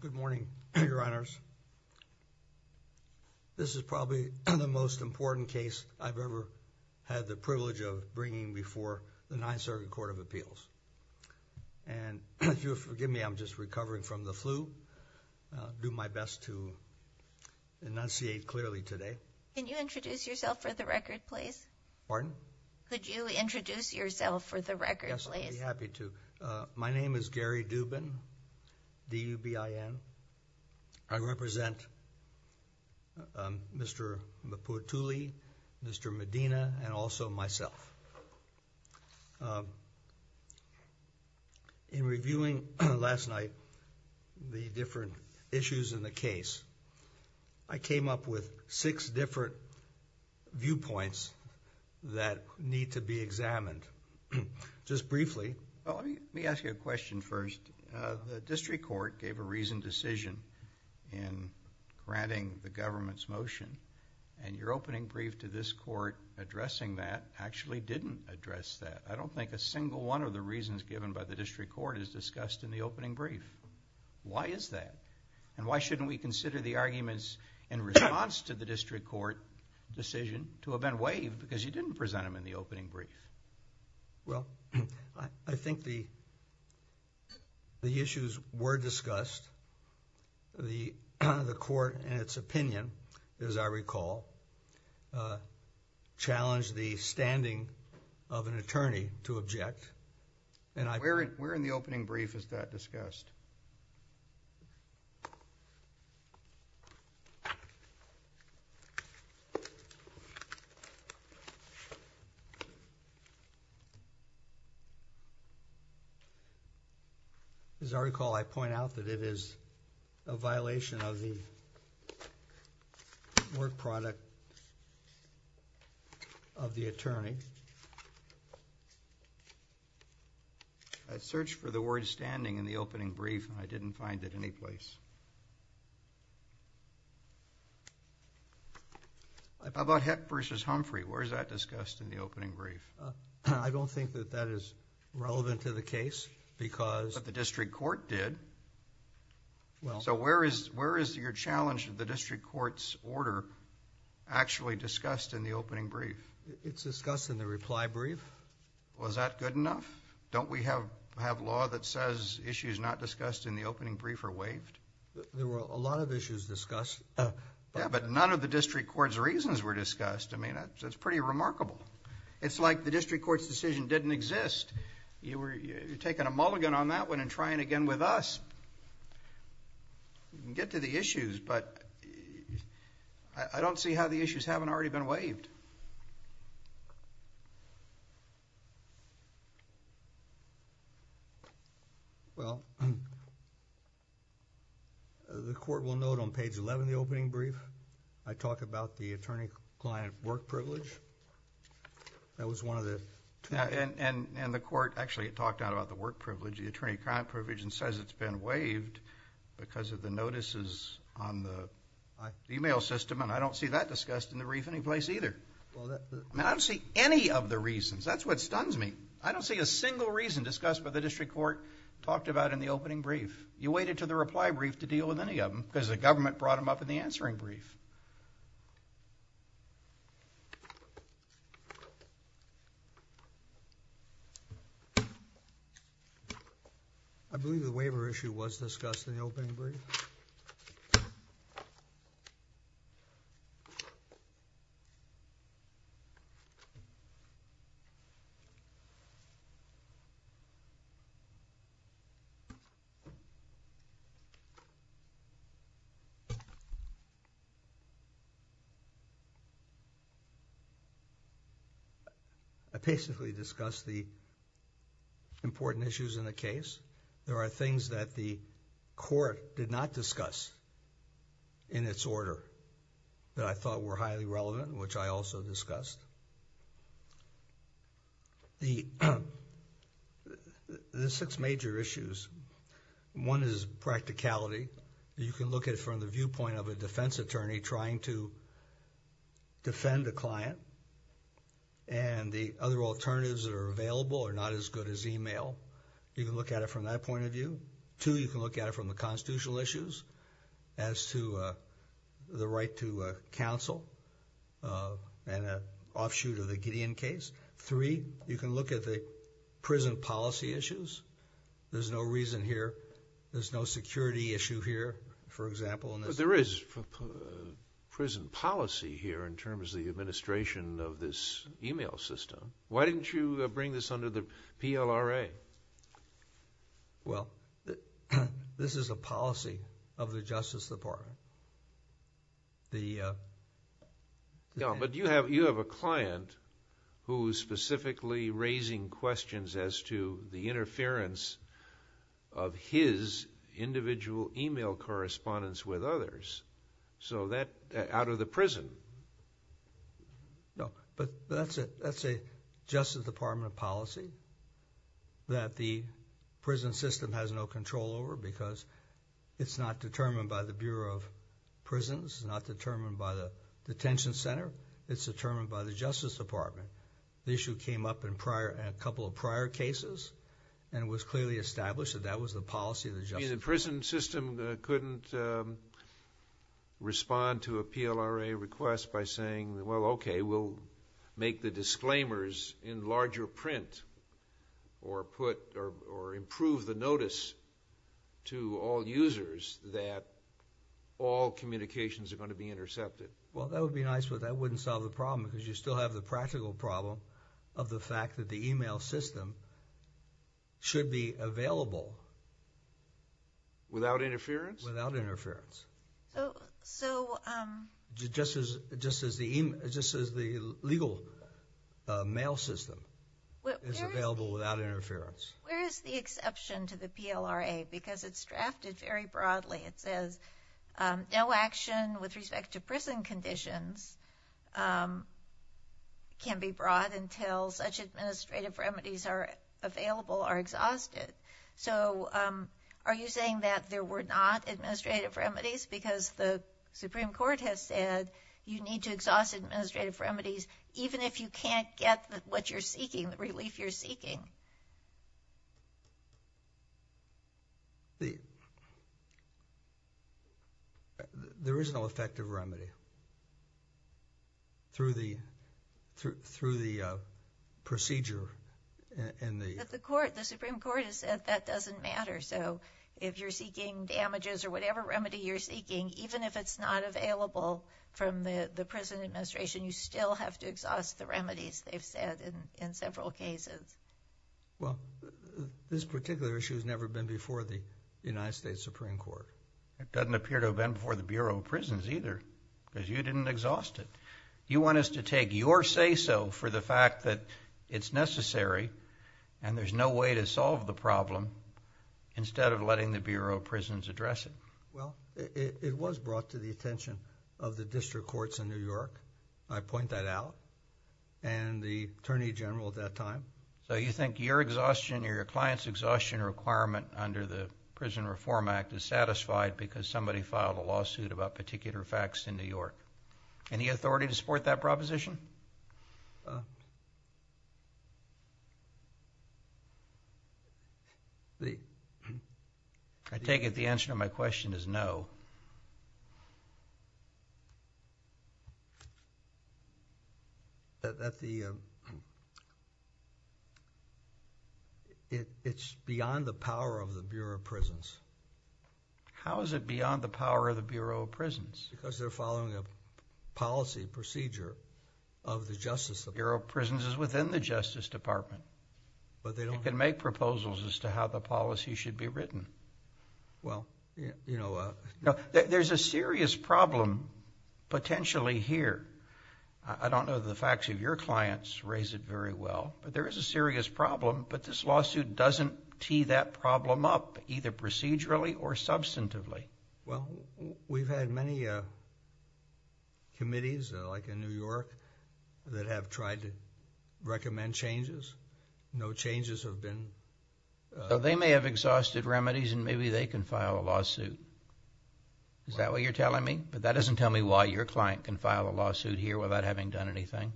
Good morning, Your Honors. This is probably the most important case I've ever had the privilege of bringing before the Ninth Circuit Court of Appeals. And if you'll forgive me, I'm just recovering from the flu. I'll do my best to enunciate clearly today. Can you introduce yourself for the record, please? Pardon? Could you introduce yourself for the record, please? Yes, I'd be happy to. My name is Gary Dubin, D-U-B-I-N. I represent Mr. Mapuatuli, Mr. Medina, and also myself. In reviewing last night the different issues in the case, I came up with six different viewpoints that need to be examined. Just briefly, let me ask you a question first. The district court gave a reasoned decision in granting the government's motion, and your opening brief to this court addressing that actually didn't address that. I don't think a single one of the reasons given by the district court is discussed in the opening brief. Why is that? And why shouldn't we consider the arguments in response to the district court decision to have been waived because you didn't present them in the opening brief? Well, I think the issues were discussed. The court, in its opinion, as I recall, challenged the standing of an attorney to object. Where in the opening brief is that discussed? As I recall, I point out that it is a violation of the work product of the attorney. I searched for the word standing in the opening brief, and I didn't find it anyplace. How about Hecht v. Humphrey? Where is that discussed in the opening brief? I don't think that that is relevant to the case. But the district court did. So where is your challenge of the district court's order actually discussed in the opening brief? It's discussed in the reply brief. Was that good enough? Don't we have law that says issues not discussed in the opening brief are waived? There were a lot of issues discussed. Yeah, but none of the district court's reasons were discussed. I mean, that's pretty remarkable. It's like the district court's decision didn't exist. You're taking a mulligan on that one and trying again with us. You can get to the issues, but I don't see how the issues haven't already been waived. Well, the court will note on page 11 of the opening brief, I talk about the attorney-client work privilege. And the court actually talked out about the work privilege, the attorney-client privilege, and says it's been waived because of the notices on the e-mail system. And I don't see that discussed in the briefing place either. I don't see any of the reasons. That's what stuns me. I don't see a single reason discussed by the district court talked about in the opening brief. You waited until the reply brief to deal with any of them because the government brought them up in the answering brief. I believe the waiver issue was discussed in the opening brief. I basically discussed the important issues in the case. There are things that the court did not discuss in its order that I thought were highly relevant, which I also discussed. The six major issues, one is practicality. You can look at it from the viewpoint of a defense attorney trying to defend a client. And the other alternatives that are available are not as good as e-mail. You can look at it from that point of view. Two, you can look at it from the constitutional issues as to the right to counsel and an offshoot of the Gideon case. Three, you can look at the prison policy issues. There's no reason here. There's no security issue here, for example. But there is prison policy here in terms of the administration of this e-mail system. Why didn't you bring this under the PLRA? Well, this is a policy of the Justice Department. But you have a client who is specifically raising questions as to the interference of his individual e-mail correspondence with others out of the prison. No, but that's a Justice Department policy that the prison system has no control over because it's not determined by the Bureau of Prisons, not determined by the detention center. It's determined by the Justice Department. The issue came up in a couple of prior cases, and it was clearly established that that was the policy of the Justice Department. You mean the prison system couldn't respond to a PLRA request by saying, well, okay, we'll make the disclaimers in larger print or improve the notice to all users that all communications are going to be intercepted? Well, that would be nice, but that wouldn't solve the problem because you still have the practical problem of the fact that the e-mail system should be available. Without interference? Without interference. So just as the legal mail system is available without interference. Where is the exception to the PLRA? Because it's drafted very broadly. It says no action with respect to prison conditions can be brought until such administrative remedies are available or exhausted. So are you saying that there were not administrative remedies? Because the Supreme Court has said you need to exhaust administrative remedies even if you can't get what you're seeking, the relief you're seeking. There is no effective remedy through the procedure. But the Supreme Court has said that doesn't matter. So if you're seeking damages or whatever remedy you're seeking, even if it's not available from the prison administration, you still have to exhaust the remedies they've said in several cases. Well, this particular issue has never been before the United States Supreme Court. It doesn't appear to have been before the Bureau of Prisons either because you didn't exhaust it. You want us to take your say-so for the fact that it's necessary and there's no way to solve the problem instead of letting the Bureau of Prisons address it. Well, it was brought to the attention of the district courts in New York. I point that out. And the Attorney General at that time. So you think your exhaustion or your client's exhaustion requirement under the Prison Reform Act is satisfied because somebody filed a lawsuit about particular facts in New York. Any authority to support that proposition? I take it the answer to my question is no. It's beyond the power of the Bureau of Prisons. How is it beyond the power of the Bureau of Prisons? Because they're following a policy procedure of the Justice Department. Bureau of Prisons is within the Justice Department. But they don't. You can make proposals as to how the policy should be written. Well, you know. There's a serious problem potentially here. I don't know the facts of your clients raise it very well, but there is a serious problem. But this lawsuit doesn't tee that problem up either procedurally or substantively. Well, we've had many committees like in New York that have tried to recommend changes. No changes have been. They may have exhausted remedies and maybe they can file a lawsuit. Is that what you're telling me? But that doesn't tell me why your client can file a lawsuit here without having done anything.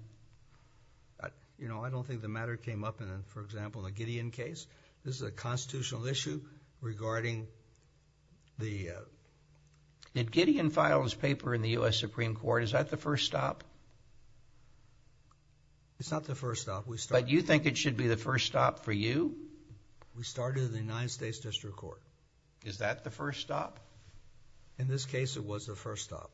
You know, I don't think the matter came up in, for example, the Gideon case. This is a constitutional issue regarding the. Did Gideon file his paper in the U.S. Supreme Court? Is that the first stop? It's not the first stop. But you think it should be the first stop for you? We started in the United States District Court. Is that the first stop? In this case, it was the first stop.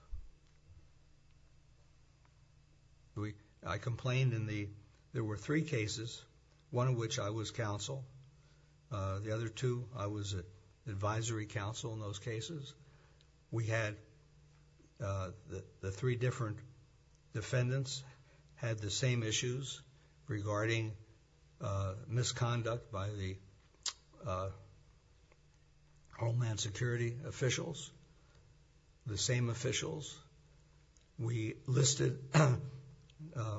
I complained in the. There were three cases, one of which I was counsel. The other two, I was advisory counsel in those cases. We had the three different defendants had the same issues regarding misconduct by the homeland security officials. The same officials. We listed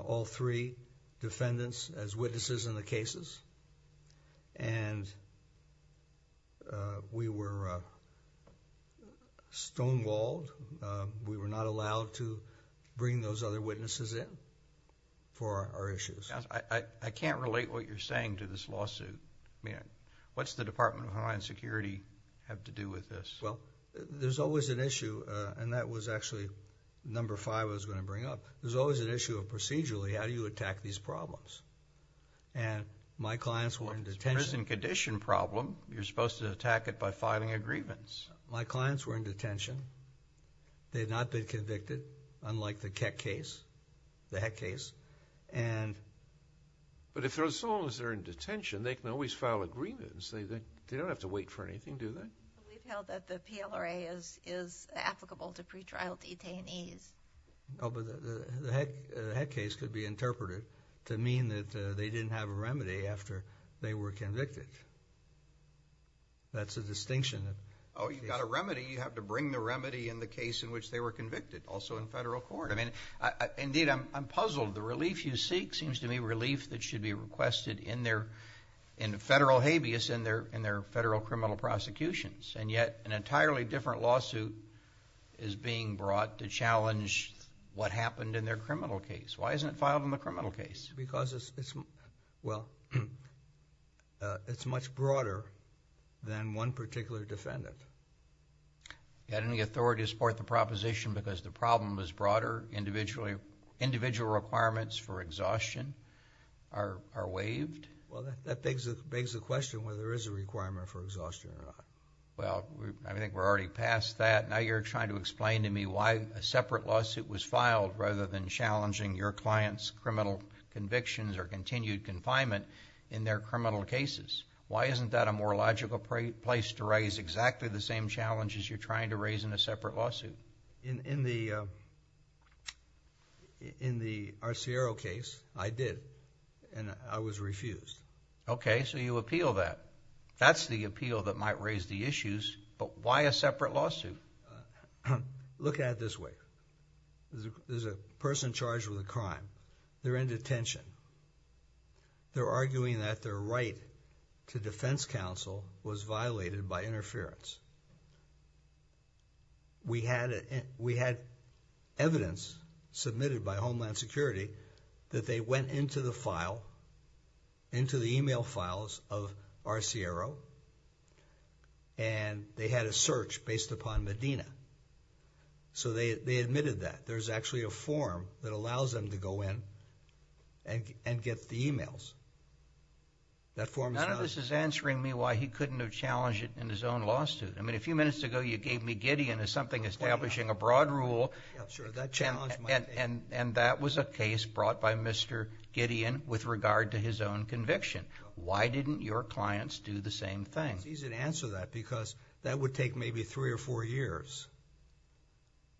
all three defendants as witnesses in the cases. And we were stonewalled. We were not allowed to bring those other witnesses in for our issues. I can't relate what you're saying to this lawsuit. What's the Department of Homeland Security have to do with this? Well, there's always an issue, and that was actually number five I was going to bring up. There's always an issue of procedurally, how do you attack these problems? And my clients were in detention. Well, if it's a prison condition problem, you're supposed to attack it by filing a grievance. My clients were in detention. They had not been convicted, unlike the Keck case, the Heck case. But as long as they're in detention, they can always file a grievance. They don't have to wait for anything, do they? We've held that the PLRA is applicable to pretrial detainees. Oh, but the Heck case could be interpreted to mean that they didn't have a remedy after they were convicted. That's a distinction. Oh, you've got a remedy. You have to bring the remedy in the case in which they were convicted, also in federal court. I mean, indeed, I'm puzzled. The relief you seek seems to me relief that should be requested in federal habeas in their federal criminal prosecutions, and yet an entirely different lawsuit is being brought to challenge what happened in their criminal case. Why isn't it filed in the criminal case? Because it's much broader than one particular defendant. You had any authority to support the proposition because the problem was broader, individual requirements for exhaustion are waived? Well, that begs the question whether there is a requirement for exhaustion or not. Well, I think we're already past that. Now you're trying to explain to me why a separate lawsuit was filed rather than challenging your client's criminal convictions or continued confinement in their criminal cases. Why isn't that a more logical place to raise exactly the same challenges you're trying to raise in a separate lawsuit? In the Arciero case, I did, and I was refused. Okay, so you appeal that. That's the appeal that might raise the issues, but why a separate lawsuit? Look at it this way. There's a person charged with a crime. They're in detention. They're arguing that their right to defense counsel was violated by interference. We had evidence submitted by Homeland Security that they went into the file, into the e-mail files of Arciero, and they had a search based upon Medina. So they admitted that. There's actually a form that allows them to go in and get the e-mails. None of this is answering me why he couldn't have challenged it in his own lawsuit. I mean, a few minutes ago you gave me Gideon as something establishing a broad rule, and that was a case brought by Mr. Gideon with regard to his own conviction. Why didn't your clients do the same thing? It's easy to answer that because that would take maybe three or four years.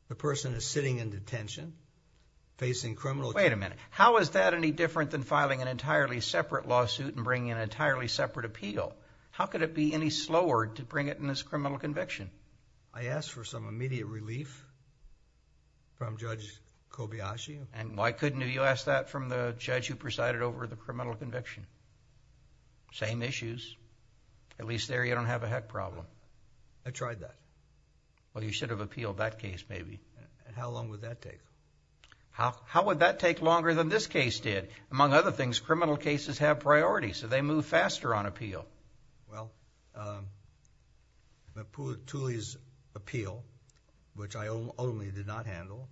The person is sitting in detention facing criminal charges. Wait a minute. How is that any different than filing an entirely separate lawsuit and bringing an entirely separate appeal? How could it be any slower to bring it in this criminal conviction? I asked for some immediate relief from Judge Kobayashi. And why couldn't you ask that from the judge who presided over the criminal conviction? Same issues. At least there you don't have a heck problem. I tried that. Well, you should have appealed that case maybe. How long would that take? How would that take longer than this case did? Among other things, criminal cases have priority, so they move faster on appeal. Well, Tully's appeal, which I ultimately did not handle,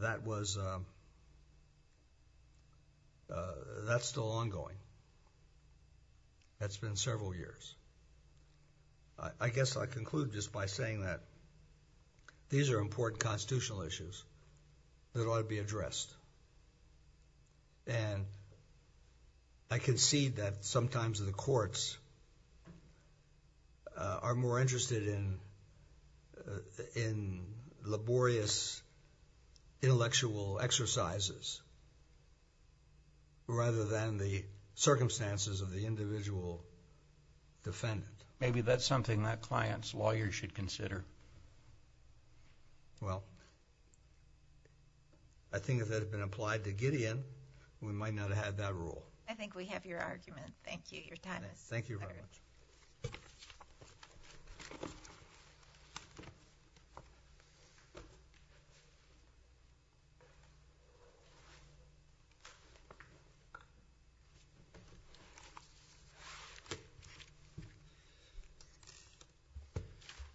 that was still ongoing. That's been several years. I guess I conclude just by saying that these are important constitutional issues that ought to be addressed. And I concede that sometimes the courts are more interested in laborious intellectual exercises rather than the circumstances of the individual defendant. Maybe that's something that client's lawyer should consider. Well, I think if that had been applied to Gideon, we might not have had that rule. I think we have your argument. Thank you. Your time is up. Thank you very much.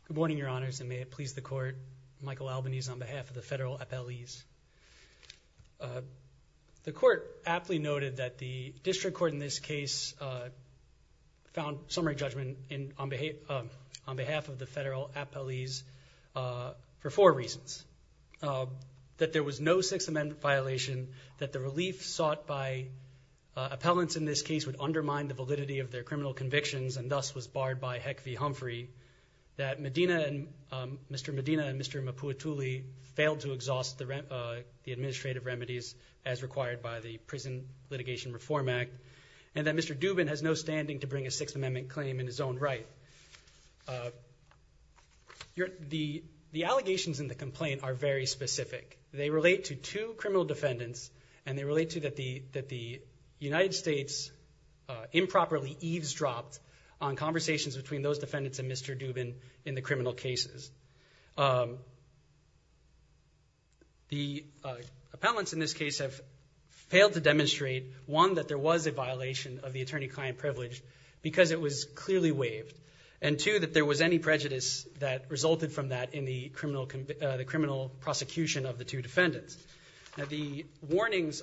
Good morning, Your Honors, and may it please the Court. Michael Albanese on behalf of the Federal Appellees. The Court aptly noted that the District Court in this case found summary judgment on behalf of the Federal Appellees for four reasons. That there was no Sixth Amendment violation, that the relief sought by appellants in this case would undermine the validity of their criminal convictions and thus was barred by Heck v. Humphrey, that Mr. Medina and Mr. Mapuetuli failed to exhaust the administrative remedies as required by the Prison Litigation Reform Act, and that Mr. Dubin has no standing to bring a Sixth Amendment claim in his own right. The allegations in the complaint are very specific. They relate to two criminal defendants, and they relate to that the United States improperly eavesdropped on conversations between those defendants and Mr. Dubin in the criminal cases. The appellants in this case have failed to demonstrate, one, that there was a violation of the attorney-client privilege because it was clearly waived, and, two, that there was any prejudice that resulted from that in the criminal prosecution of the two defendants. Now, the warnings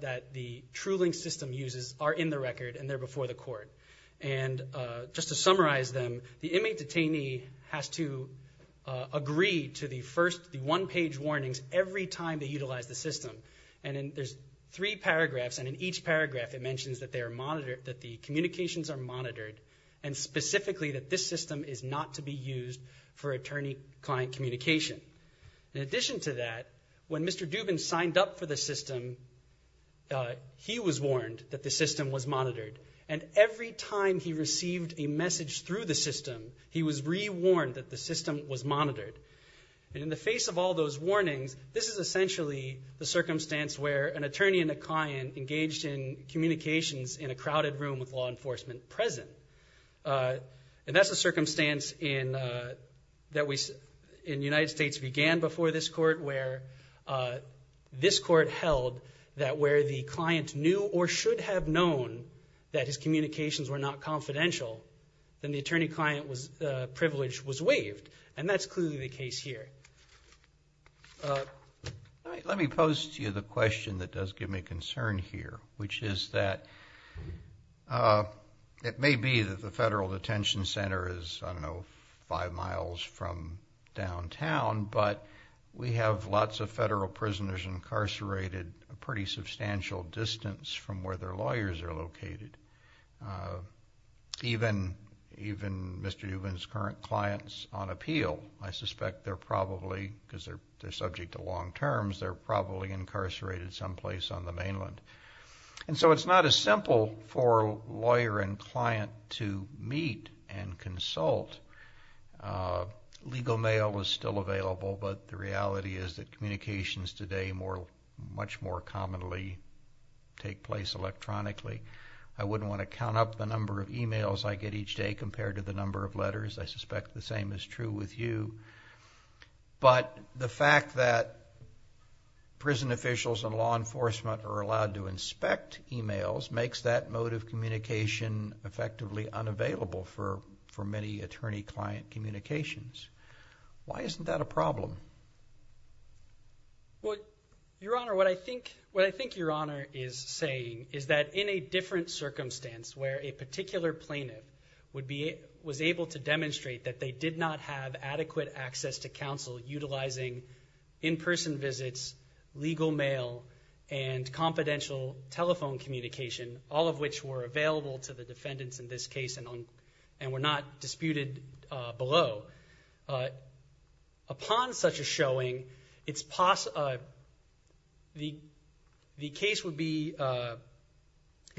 that the Trulink system uses are in the record, and they're before the Court. And just to summarize them, the inmate detainee has to agree to the one-page warnings every time they utilize the system. And there's three paragraphs, and in each paragraph it mentions that the communications are monitored and specifically that this system is not to be used for attorney-client communication. In addition to that, when Mr. Dubin signed up for the system, he was warned that the system was monitored. And every time he received a message through the system, he was re-warned that the system was monitored. And in the face of all those warnings, this is essentially the circumstance where an attorney and a client engaged in communications in a crowded room with law enforcement present. And that's a circumstance that in the United States began before this Court, where this Court held that where the client knew or should have known that his communications were not confidential, then the attorney-client privilege was waived. And that's clearly the case here. Let me pose to you the question that does give me concern here, which is that it may be that the federal detention center is, I don't know, five miles from downtown, but we have lots of federal prisoners incarcerated a pretty substantial distance from where their lawyers are located. Even Mr. Dubin's current clients on appeal, I suspect they're probably, because they're subject to long terms, they're probably incarcerated someplace on the mainland. And so it's not as simple for a lawyer and client to meet and consult. Legal mail is still available, but the reality is that communications today much more commonly take place electronically. I wouldn't want to count up the number of e-mails I get each day compared to the number of letters. I suspect the same is true with you. But the fact that prison officials and law enforcement are allowed to inspect e-mails makes that mode of communication effectively unavailable for many attorney-client communications. Why isn't that a problem? Well, Your Honor, what I think Your Honor is saying is that in a different circumstance where a particular plaintiff was able to demonstrate that they did not have adequate access to counsel utilizing in-person visits, legal mail, and confidential telephone communication, all of which were available to the defendants in this case and were not disputed below, upon such a showing, the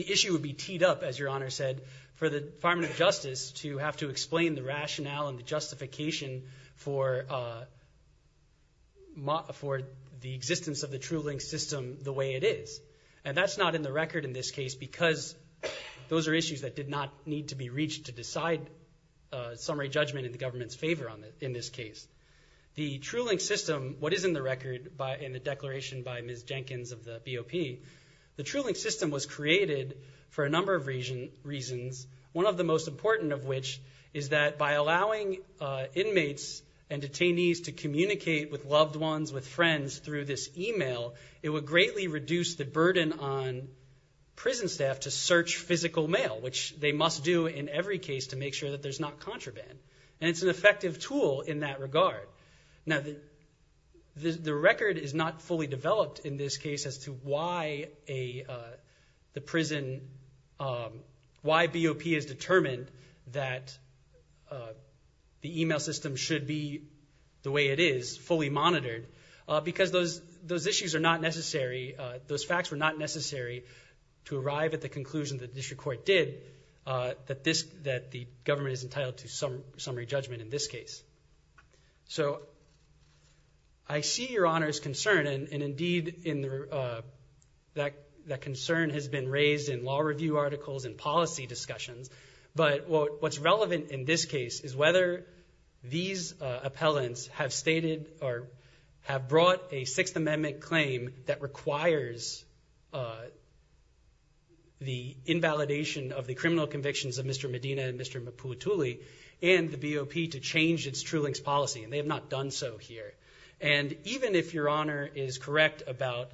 issue would be teed up, as Your Honor said, for the Department of Justice to have to explain the rationale and the justification for the existence of the true link system the way it is. And that's not in the record in this case because those are issues that did not need to be reached to decide summary judgment in the government's favor in this case. The true link system, what is in the record in the declaration by Ms. Jenkins of the BOP, the true link system was created for a number of reasons, one of the most important of which is that by allowing inmates and detainees to communicate with loved ones, with friends, through this e-mail, it would greatly reduce the burden on prison staff to search physical mail, which they must do in every case to make sure that there's not contraband. And it's an effective tool in that regard. Now, the record is not fully developed in this case as to why the prison, why BOP has determined that the e-mail system should be the way it is, fully monitored, because those issues are not necessary, those facts were not necessary to arrive at the conclusion that the district court did that the government is entitled to summary judgment in this case. So I see Your Honor's concern, and indeed that concern has been raised in law review articles and policy discussions, but what's relevant in this case is whether these appellants have stated or have brought a Sixth Amendment claim that requires the invalidation of the criminal convictions of Mr. Medina and Mr. Mapulatuli and the BOP to change its true links policy, and they have not done so here. And even if Your Honor is correct about,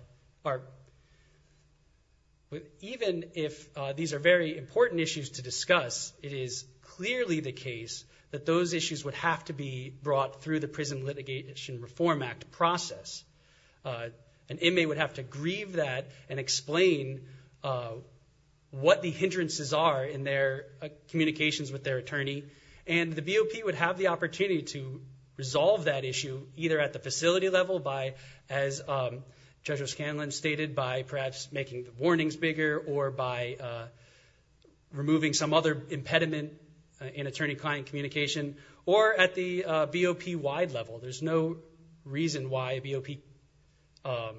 even if these are very important issues to discuss, it is clearly the case that those issues would have to be brought through the Prison Litigation Reform Act process. An inmate would have to grieve that and explain what the hindrances are in their communications with their attorney, and the BOP would have the opportunity to resolve that issue either at the facility level by, as Judge O'Scanlan stated, by perhaps making the warnings bigger or by removing some other impediment in attorney-client communication, or at the BOP-wide level. There's no reason why a BOP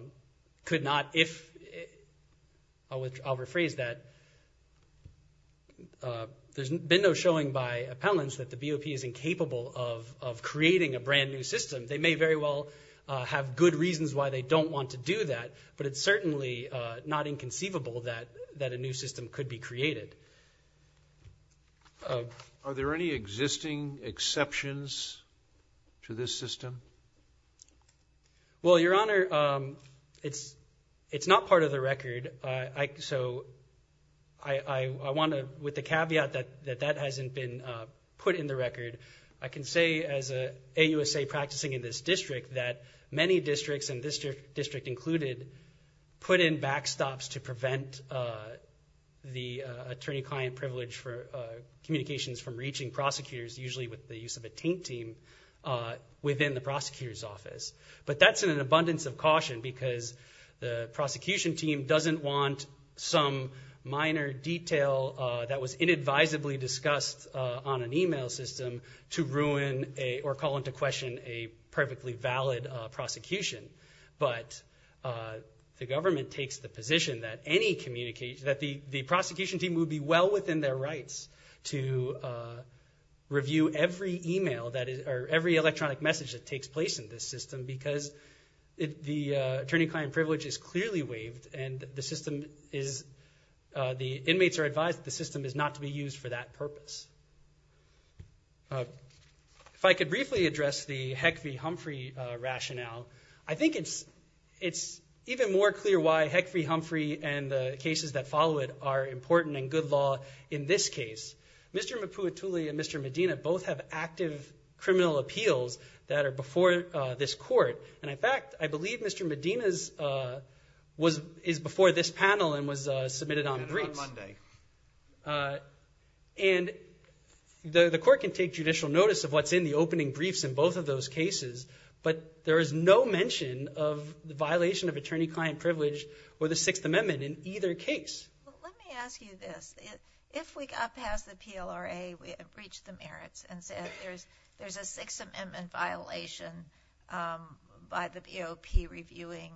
could not, if, I'll rephrase that. There's been no showing by appellants that the BOP is incapable of creating a brand-new system. They may very well have good reasons why they don't want to do that, but it's certainly not inconceivable that a new system could be created. Are there any existing exceptions to this system? Well, Your Honor, it's not part of the record, so I want to, with the caveat that that hasn't been put in the record, I can say as an AUSA practicing in this district that many districts, and this district included, put in backstops to prevent the attorney-client privilege for communications from reaching prosecutors, usually with the use of a taint team, within the prosecutor's office. But that's in an abundance of caution because the prosecution team doesn't want some minor detail that was inadvisably discussed on an e-mail system to ruin or call into question a perfectly valid prosecution. But the government takes the position that the prosecution team would be well within their rights to review every e-mail, or every electronic message that takes place in this system because the attorney-client privilege is clearly waived and the inmates are advised that the system is not to be used for that purpose. If I could briefly address the Heck v. Humphrey rationale, I think it's even more clear why Heck v. Humphrey and the cases that follow it are important and good law in this case. Mr. Maputuli and Mr. Medina both have active criminal appeals that are before this court, and, in fact, I believe Mr. Medina's is before this panel and was submitted on briefs. On Monday. And the court can take judicial notice of what's in the opening briefs in both of those cases, but there is no mention of the violation of attorney-client privilege or the Sixth Amendment in either case. Let me ask you this. If we got past the PLRA and reached the merits and said there's a Sixth Amendment violation by the BOP reviewing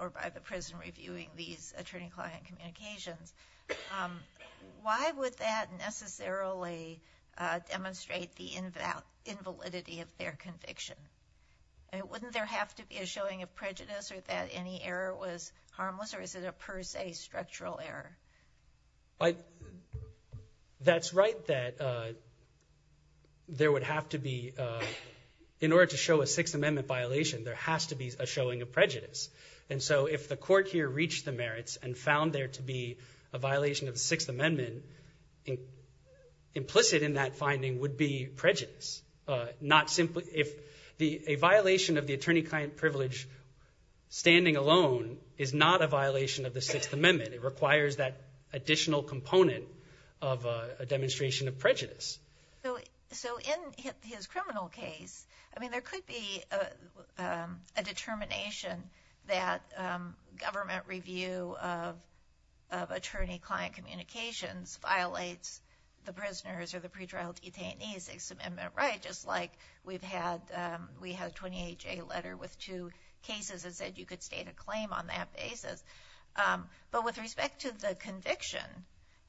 or by the prison reviewing these attorney-client communications, why would that necessarily demonstrate the invalidity of their conviction? Wouldn't there have to be a showing of prejudice or that any error was harmless or is it a per se structural error? That's right that there would have to be, in order to show a Sixth Amendment violation, there has to be a showing of prejudice. And so if the court here reached the merits and found there to be a violation of the Sixth Amendment, implicit in that finding would be prejudice. If a violation of the attorney-client privilege standing alone is not a violation of the Sixth Amendment, it requires that additional component of a demonstration of prejudice. So in his criminal case, I mean there could be a determination that government review of attorney-client communications violates the prisoners or the pretrial detainees' Sixth Amendment right, just like we had a 28-J letter with two cases that said you could state a claim on that basis. But with respect to the conviction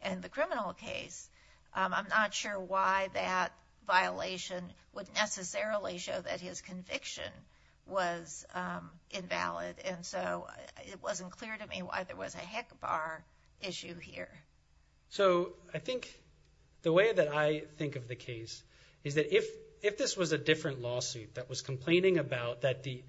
in the criminal case, I'm not sure why that violation would necessarily show that his conviction was invalid. And so it wasn't clear to me why there was a HECBAR issue here. So I think the way that I think of the case is that if this was a different lawsuit that was complaining about that the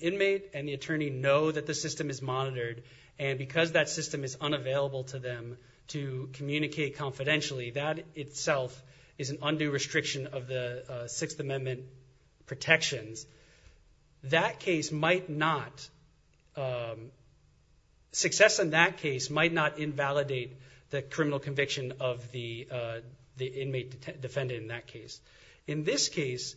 inmate and the attorney know that the system is monitored, and because that system is unavailable to them to communicate confidentially, that itself is an undue restriction of the Sixth Amendment protections, that case might not, success in that case might not invalidate the criminal conviction of the inmate defendant in that case. In this case,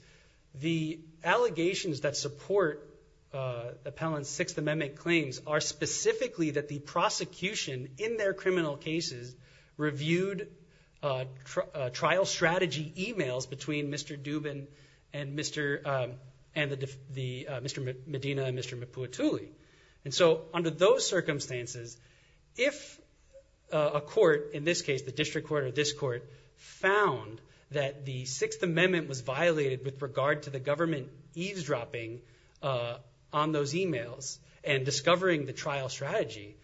the allegations that support the appellant's Sixth Amendment claims are specifically that the prosecution, in their criminal cases, reviewed trial strategy e-mails between Mr. Dubin and Mr. Medina and Mr. Mapuatuli. And so under those circumstances, if a court, in this case the district court or this court, found that the Sixth Amendment was violated with regard to the government eavesdropping on those e-mails and discovering the trial strategy,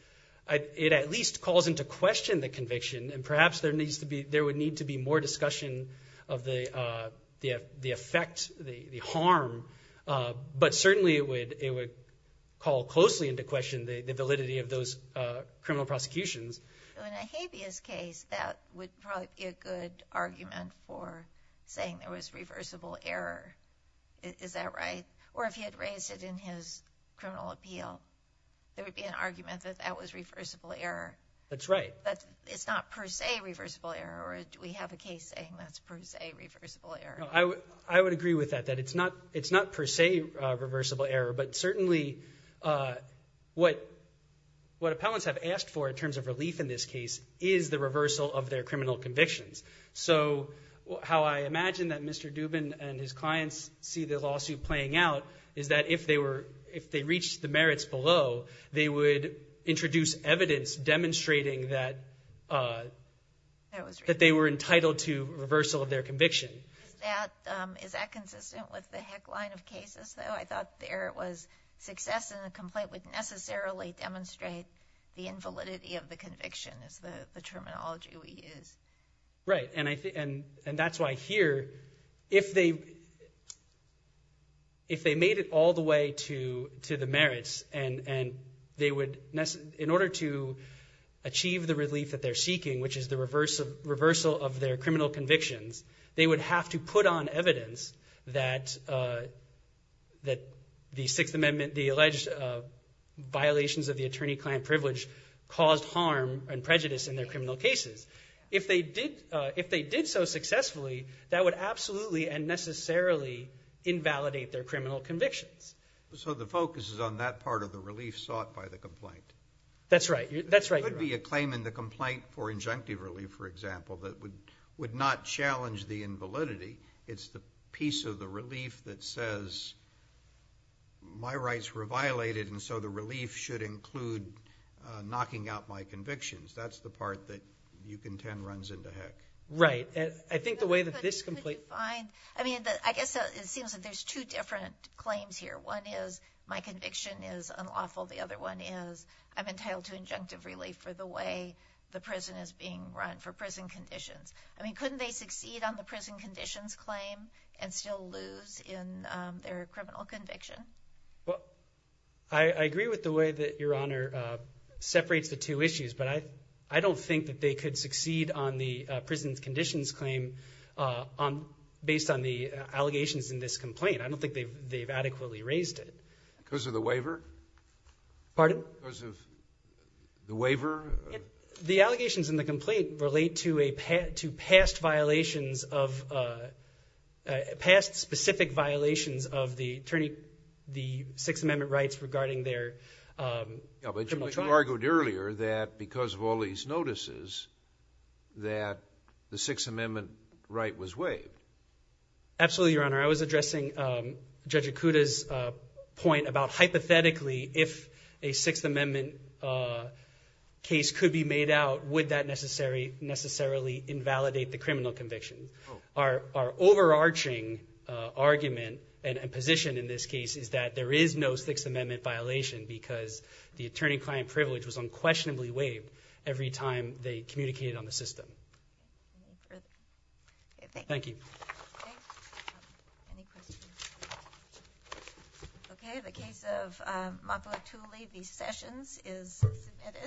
it at least calls into question the conviction, and perhaps there would need to be more discussion of the effect, the harm, but certainly it would call closely into question the validity of those criminal prosecutions. In Ahabia's case, that would probably be a good argument for saying there was reversible error. Is that right? Or if he had raised it in his criminal appeal, there would be an argument that that was reversible error. That's right. But it's not per se reversible error, or do we have a case saying that's per se reversible error? I would agree with that, that it's not per se reversible error, but certainly what appellants have asked for in terms of relief in this case is the reversal of their criminal convictions. So how I imagine that Mr. Dubin and his clients see the lawsuit playing out is that if they reached the merits below, they would introduce evidence demonstrating that they were entitled to reversal of their conviction. Is that consistent with the Heck line of cases, though? I thought the error was success in the complaint would necessarily demonstrate the invalidity of the conviction is the terminology we use. Right, and that's why here if they made it all the way to the merits and in order to achieve the relief that they're seeking, which is the reversal of their criminal convictions, they would have to put on evidence that the Sixth Amendment, the alleged violations of the attorney-client privilege caused harm and prejudice in their criminal cases. If they did so successfully, that would absolutely and necessarily invalidate their criminal convictions. So the focus is on that part of the relief sought by the complaint? That's right. There could be a claim in the complaint for injunctive relief, for example, that would not challenge the invalidity. It's the piece of the relief that says my rights were violated, and so the relief should include knocking out my convictions. That's the part that you contend runs into Heck. Right. I think the way that this complaint – But could you find – I mean, I guess it seems that there's two different claims here. One is my conviction is unlawful. The other one is I'm entitled to injunctive relief for the way the prison is being run, for prison conditions. I mean, couldn't they succeed on the prison conditions claim and still lose in their criminal conviction? Well, I agree with the way that Your Honor separates the two issues, but I don't think that they could succeed on the prison conditions claim based on the allegations in this complaint. I don't think they've adequately raised it. Because of the waiver? Pardon? Because of the waiver? The allegations in the complaint relate to past violations of – past specific violations of the Sixth Amendment rights regarding their criminal charges. But you argued earlier that because of all these notices that the Sixth Amendment right was waived. Absolutely, Your Honor. I was addressing Judge Ikuda's point about hypothetically if a Sixth Amendment case could be made out, would that necessarily invalidate the criminal conviction? Our overarching argument and position in this case is that there is no Sixth Amendment violation because the attorney-client privilege was unquestionably waived every time they communicated on the system. Okay. Any further? Thank you. Thank you. Okay. Any questions? Okay. The case of Mapuatuli v. Sessions is submitted.